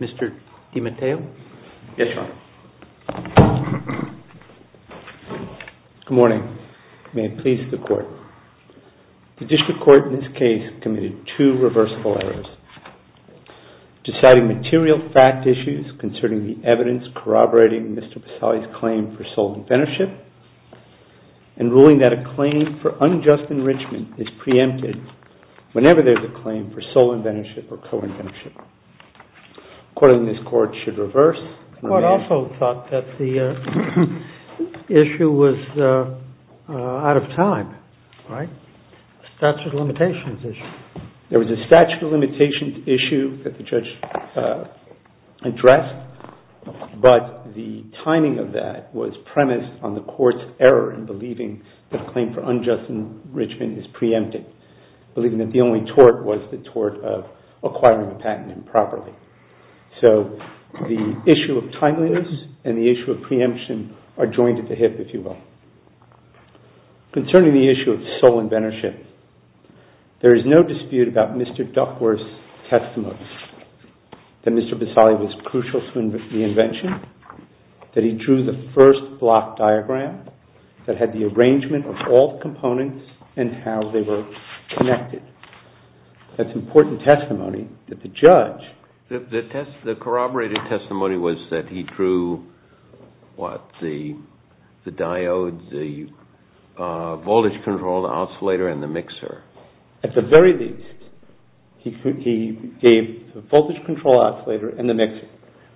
Mr. DiMatteo? Yes, Your Honor. Good morning. May it please the Court. The District Court in this case committed two reversible errors. Deciding material fact issues concerning the and ruling that a claim for unjust enrichment is preempted whenever there's a claim for sole inventorship or co-inventorship. Accordingly, this Court should reverse. The Court also thought that the issue was out of time, right? Statute of limitations issue. There was a statute of limitations issue that the judge addressed, but the timing of that was premised on the Court's error in believing that a claim for unjust enrichment is preempted, believing that the only tort was the tort of acquiring a patent improperly. So the issue of timeliness and the issue of preemption are joined at the hip, if you will. Concerning the issue of sole inventorship, there is no dispute about Mr. Duckworth's testimony that Mr. Visali was crucial to the invention, that he drew the first block diagram that had the arrangement of all components and how they were connected. That's important testimony that the judge... The corroborated testimony was that he drew, what, the diodes, the voltage control oscillator, and the mixer. At the very least, he gave the voltage control oscillator and the mixer.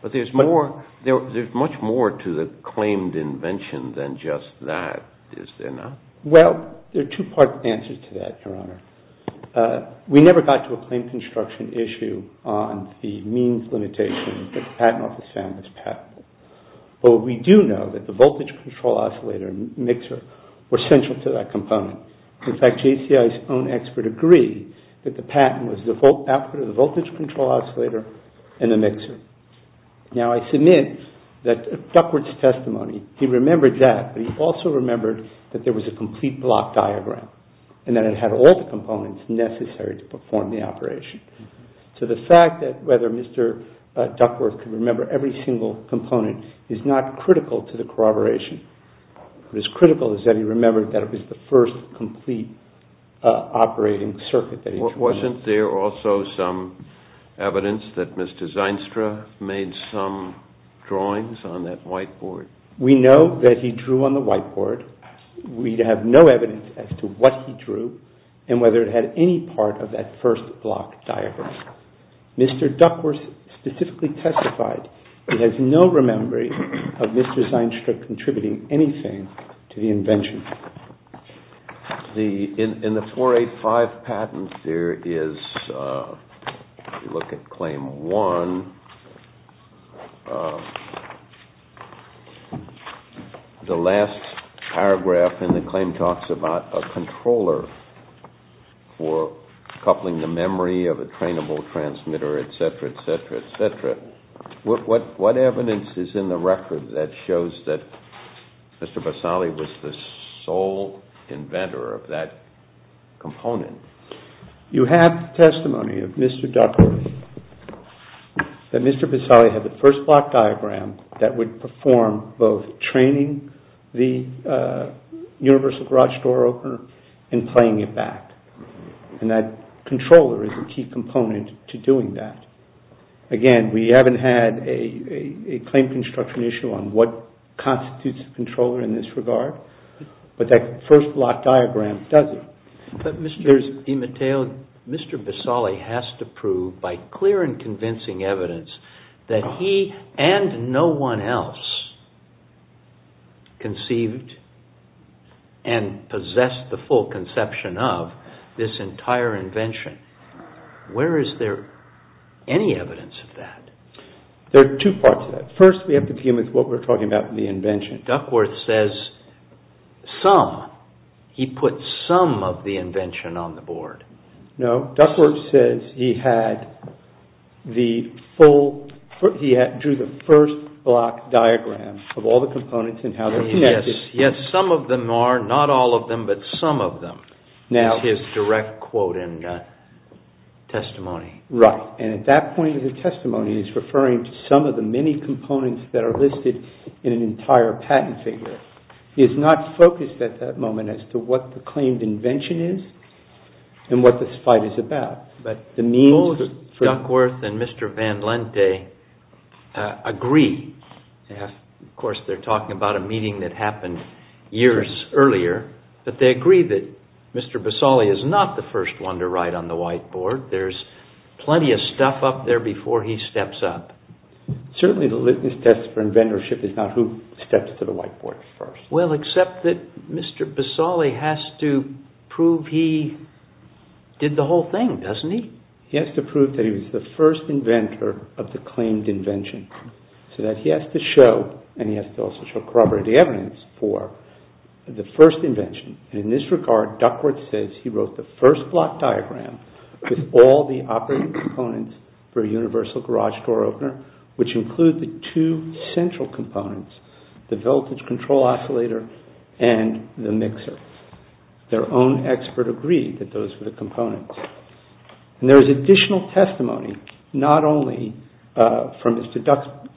But there's more, there's much more to the claimed invention than just that, is there not? Well, there are two-part answers to that, Your Honor. We never got to a claim construction issue on the means limitation that the Patent Office found as patentable. But we do know that the voltage control oscillator and mixer were JCI's own expert agree that the patent was the output of the voltage control oscillator and the mixer. Now, I submit that Duckworth's testimony, he remembered that, but he also remembered that there was a complete block diagram and that it had all the components necessary to perform the operation. So the fact that whether Mr. Duckworth could remember every single component is not critical to the corroboration. What is critical is that he remembered that it was the first complete operating circuit that he drew. Wasn't there also some evidence that Mr. Zeinstra made some drawings on that whiteboard? We know that he drew on the whiteboard. We have no evidence as to what he drew and whether it had any part of that first block diagram. Mr. Duckworth specifically testified he has no memory of Mr. Zeinstra contributing anything to the In the 485 patent, there is, if you look at Claim 1, the last paragraph in the claim talks about a controller for coupling the memory of a trainable transmitter, etc., etc., etc. What evidence is in the record that shows that Mr. Basali was the sole inventor of that component? You have testimony of Mr. Duckworth that Mr. Basali had the first block diagram that would perform both training the universal garage door opener and playing it back. And that controller is a key construction issue on what constitutes a controller in this regard, but that first block diagram does it. But Mr. Imateo, Mr. Basali has to prove by clear and convincing evidence that he and no one else conceived and possessed the full conception of this entire invention. Where is there any evidence of that? There are two parts to that. First, we have to deal with what we're talking about in the invention. Duckworth says some, he put some of the invention on the board. No, Duckworth says he drew the first block diagram of all the components and how they're connected. Yes, some of them are, not all of them, but some of them is his direct quote and testimony. Right. And at that point of the testimony, he's referring to some of the many components that are listed in an entire patent figure. He is not focused at that moment as to what the claimed invention is and what this fight is about. But the means for... years earlier, but they agree that Mr. Basali is not the first one to write on the whiteboard. There's plenty of stuff up there before he steps up. Certainly the litmus test for inventorship is not who steps to the whiteboard first. Well, except that Mr. Basali has to prove he did the whole thing, doesn't he? He has to prove that he was the first inventor of the claimed invention, so that he has to show, and he has to also show corroborative evidence for the first invention. And in this regard, Duckworth says he wrote the first block diagram with all the operating components for a universal garage door opener, which include the two central components, the voltage control oscillator and the mixer. Their own expert agreed that those were the components. And there is additional testimony, not only from Mr.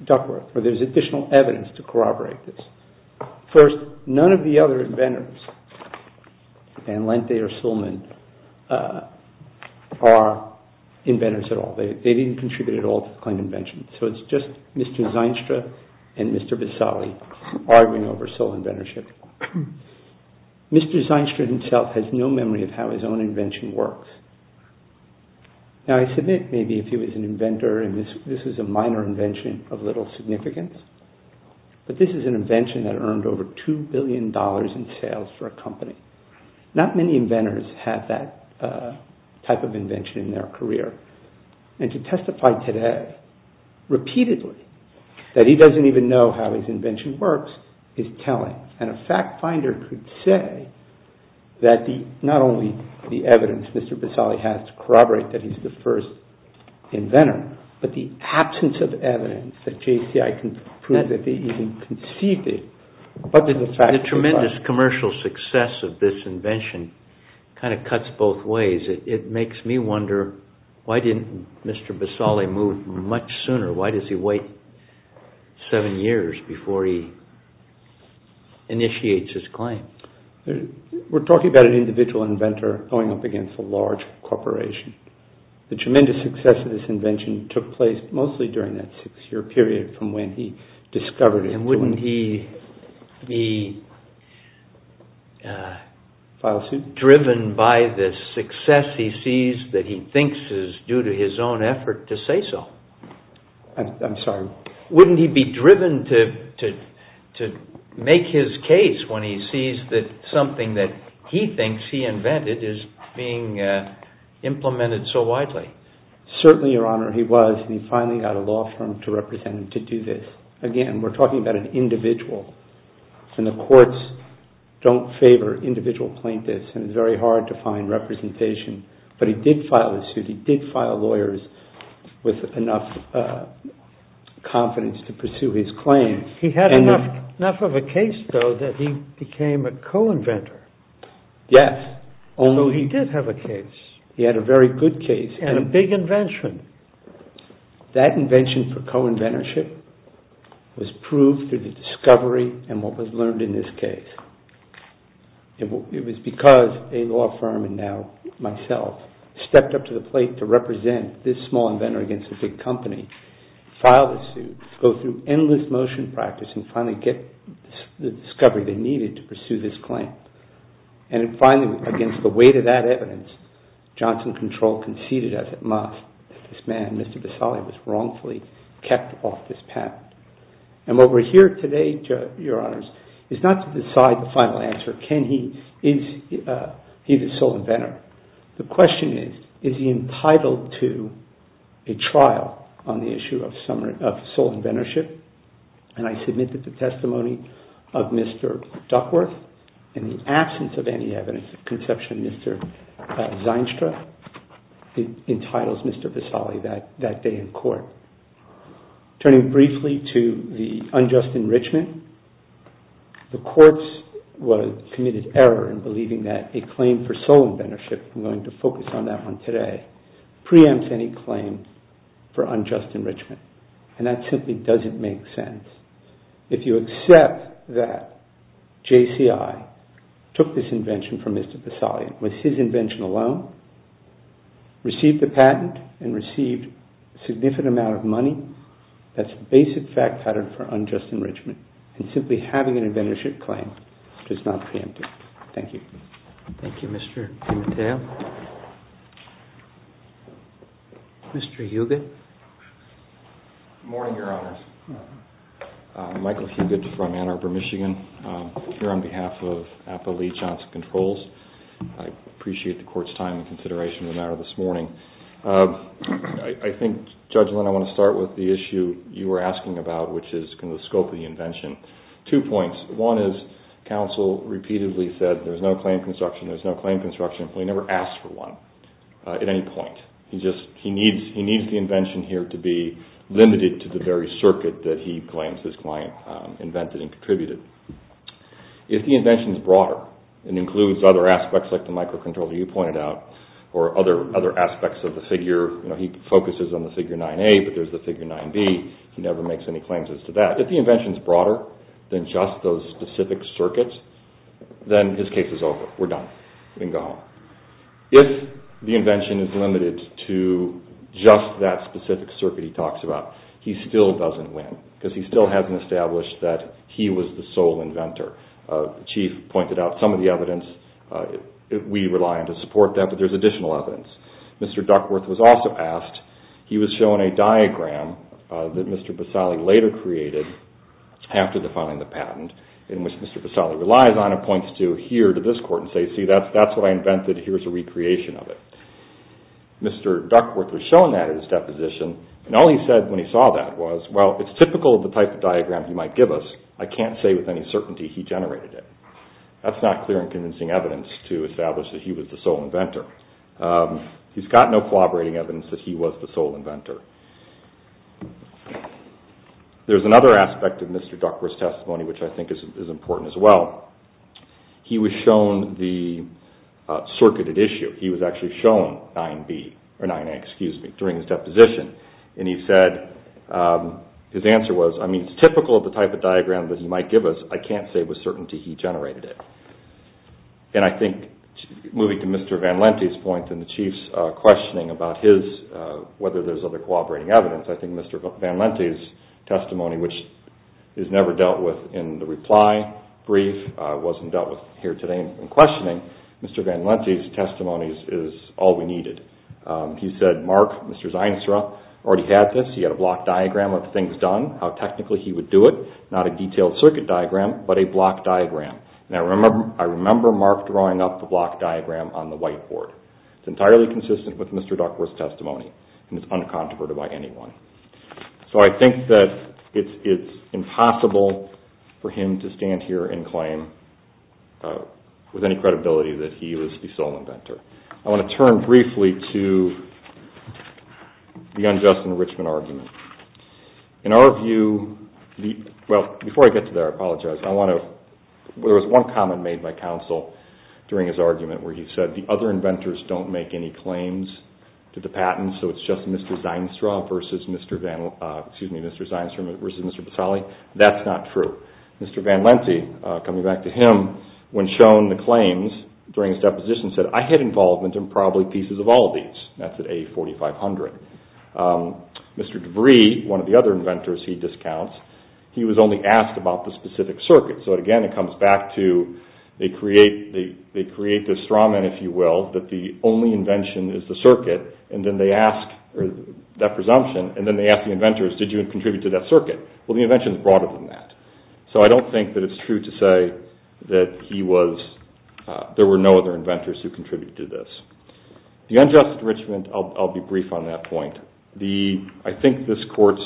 Duckworth, but there's additional evidence to corroborate this. First, none of the other inventors, Van Lente or Sullman, are inventors at all. They didn't contribute at all to the claimed invention. So it's just Mr. Zeinstra and Mr. Basali arguing over sole inventorship. Mr. Zeinstra himself has no memory of how his own invention works. Now, I submit maybe if he was an inventor, and this is a minor invention of little significance, but this is an invention that earned over $2 billion in sales for a company. Not many inventors have that type of invention in their career. And to testify today, repeatedly, that he doesn't even know how his invention works is telling. And a fact finder could say that not only the evidence Mr. Basali has to corroborate that he's the first inventor, but the absence of evidence that JCI can prove that they even conceived it. The tremendous commercial success of this invention kind of cuts both ways. It makes me wonder, why didn't Mr. Basali move much sooner? Why does he wait seven years before he initiates his claim? We're talking about an individual inventor going up against a large corporation. The tremendous success of this invention took place mostly during that six-year period from when he discovered it. And wouldn't he be driven by the success he sees that he thinks is due to his own effort to say so? I'm sorry? Wouldn't he be driven to make his case when he sees that something that he thinks he invented is being implemented so widely? Certainly, Your Honor, he was. And he finally got a law firm to represent him to do this. Again, we're talking about an individual. And the courts don't favor individual plaintiffs. And it's very hard to find representation. But he did file the suit. He did file lawyers with enough confidence to pursue his claim. He had enough of a case, though, that he became a co-inventor. Yes. So he did have a case. He had a very good case. And a big invention. That invention for co-inventorship was proved through the discovery and what was learned in this case. It was because a law firm, and now myself, stepped up to the plate to represent this small inventor against a big company, file the suit, go through endless motion practice, and finally get the discovery they needed to pursue this claim. And finally, against the weight of that evidence, Johnson Control conceded, as it must, that this man, Mr. Visali, was wrongfully kept off this patent. And what we're here today, Your Honors, is not to decide the final answer. Can he? Is he the sole inventor? The question is, is he entitled to a trial on the issue of sole inventorship? And I submit that the testimony of Mr. Duckworth, in the absence of any evidence of conception, Mr. Zeinstra, entitles Mr. Visali that day in court. Turning briefly to the unjust enrichment, the courts committed error in believing that a claim for sole inventorship, I'm going to focus on that one today, preempts any claim for unjust enrichment. And that simply doesn't make sense. If you accept that JCI took this invention from Mr. Visali, it was his invention alone, received the patent, and received a significant amount of money, that's a basic fact pattern for unjust enrichment. And simply having an inventorship claim does not preempt it. Thank you. Thank you, Mr. Pimentel. Mr. Hugut? Good morning, Your Honors. Michael Hugut from Ann Arbor, Michigan, here on behalf of Appa Lee Johnson Controls. I appreciate the court's time and consideration of the matter this morning. I think, Judge Linn, I want to start with the issue you were asking about, which is the scope of the invention. Two points. One is counsel repeatedly said there's no claim construction, there's no claim construction. He never asked for one at any point. He needs the invention here to be limited to the very circuit that he claims his client invented and contributed. If the invention is broader and includes other aspects like the microcontroller you pointed out, or other aspects of the figure, he focuses on the figure 9A, but there's the figure 9B, he never makes any claims as to that. If the invention is broader than just those specific circuits, then his case is over. We're done. We can go home. If the invention is limited to just that specific circuit he talks about, he still doesn't win because he still hasn't established that he was the sole inventor. Chief pointed out some of the evidence, we rely on to support that, but there's additional evidence. Mr. Duckworth was also asked, he was shown a diagram that Mr. Basali later created after defining the patent, in which Mr. Basali relies on and points to here to this court and says, see that's what I invented, here's a recreation of it. Mr. Duckworth was shown that in his deposition, and all he said when he saw that was, well it's typical of the type of diagram he might give us, I can't say with any certainty he generated it. That's not clear and convincing evidence to establish that he was the sole inventor. He's got no corroborating evidence that he was the sole inventor. There's another aspect of Mr. Duckworth's testimony which I think is important as well. He was shown the circuited issue. He was actually shown 9A during his deposition and he said, his answer was, I mean it's typical of the type of diagram that he might give us, I can't say with certainty he generated it. And I think, moving to Mr. Van Lente's point and the Chief's questioning about his, whether there's other cooperating evidence, I think Mr. Van Lente's testimony, which is never dealt with in the reply brief, wasn't dealt with here today in questioning, Mr. Van Lente's testimony is all we needed. He said, Mark, Mr. Zienstra, already had this, he had a block diagram of the things done, how technically he would do it, not a detailed circuit diagram, but a block diagram. And I remember Mark drawing up the block diagram on the whiteboard. It's entirely consistent with Mr. Duckworth's testimony and it's uncontroverted by anyone. So I think that it's impossible for him to stand here and claim with any credibility that he was the sole inventor. I want to turn briefly to the unjust enrichment argument. In our view, well, before I get to that, I apologize, there was one comment made by counsel during his argument where he said the other inventors don't make any claims to the patents, so it's just Mr. Zienstra versus Mr. Basali. That's not true. Mr. Van Lente, coming back to him, when shown the claims during his deposition said, I had involvement in probably pieces of all these. That's at A4500. Mr. DeVry, one of the other inventors he discounts, he was only asked about the specific circuit. So again, it comes back to, they create this strawman, if you will, that the only invention is the circuit, and then they ask, that presumption, and then they ask the inventors, did you contribute to that circuit? Well, the invention is broader than that. So I don't think that it's true to say that he was, there were no other inventors who contributed to this. The unjust enrichment, I'll be brief on that point. The, I think this court's,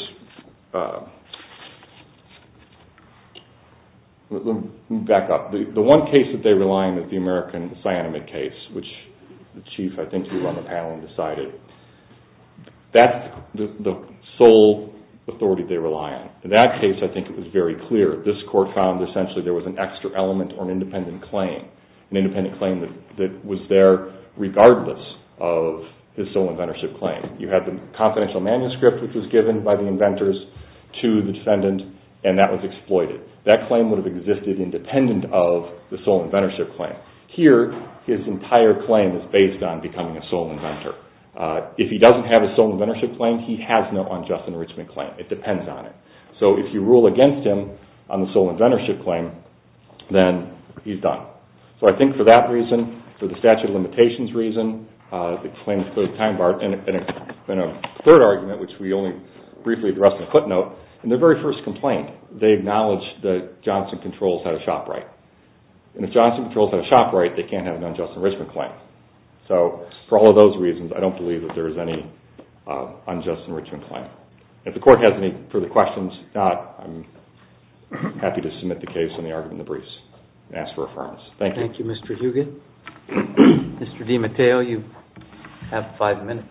let me back up. The one case that they rely on is the American cyanamide case, which the chief, I think, who ran the panel and decided, that's the sole authority they rely on. In that case, I think it was very clear. This court found essentially there was an extra element or of his sole inventorship claim. You had the confidential manuscript which was given by the inventors to the defendant, and that was exploited. That claim would have existed independent of the sole inventorship claim. Here, his entire claim is based on becoming a sole inventor. If he doesn't have a sole inventorship claim, he has no unjust enrichment claim. It depends on it. So if you rule against him on the sole inventorship claim, then he's done. So I think for that reason, for the statute of limitations reason, the claim is clearly time barred. And a third argument, which we only briefly addressed in a footnote, in their very first complaint, they acknowledged that Johnson Controls had a shop right. And if Johnson Controls had a shop right, they can't have an unjust enrichment claim. So for all of those reasons, I don't believe that there is any unjust enrichment claim. If the court has any further questions, I'm happy to submit the case on the argument of the briefs and ask for affirmance. Thank you. Thank you, Mr. Hugin. Mr. DiMatteo, you have five minutes.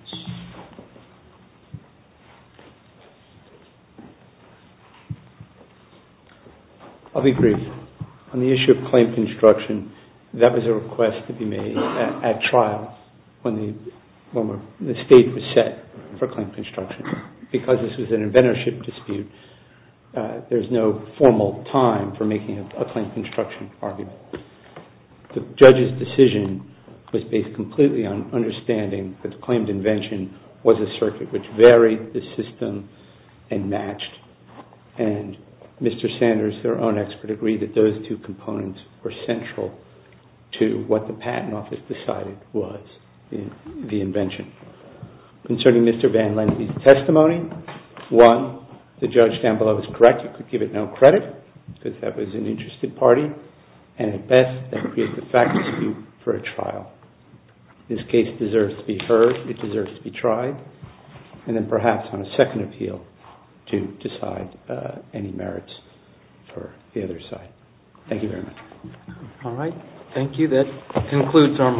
I'll be brief. On the issue of claim construction, that was a request to be made at trial when the stage was set for claim construction. Because this was an inventorship dispute, there's no formal time for making a claim construction argument. The judge's decision was based completely on understanding that the claimed invention was a circuit which varied the system and matched. And Mr. Sanders, their own expert, agreed that those two components were concerning Mr. Van Lennie's testimony. One, the judge down below is correct, you could give it no credit because that was an interested party. And at best, that creates a fact dispute for a trial. This case deserves to be heard. It deserves to be tried. And then perhaps on a second appeal to decide any merits for the other side. Thank you very much. All right. Thank you. That concludes our morning. All rise.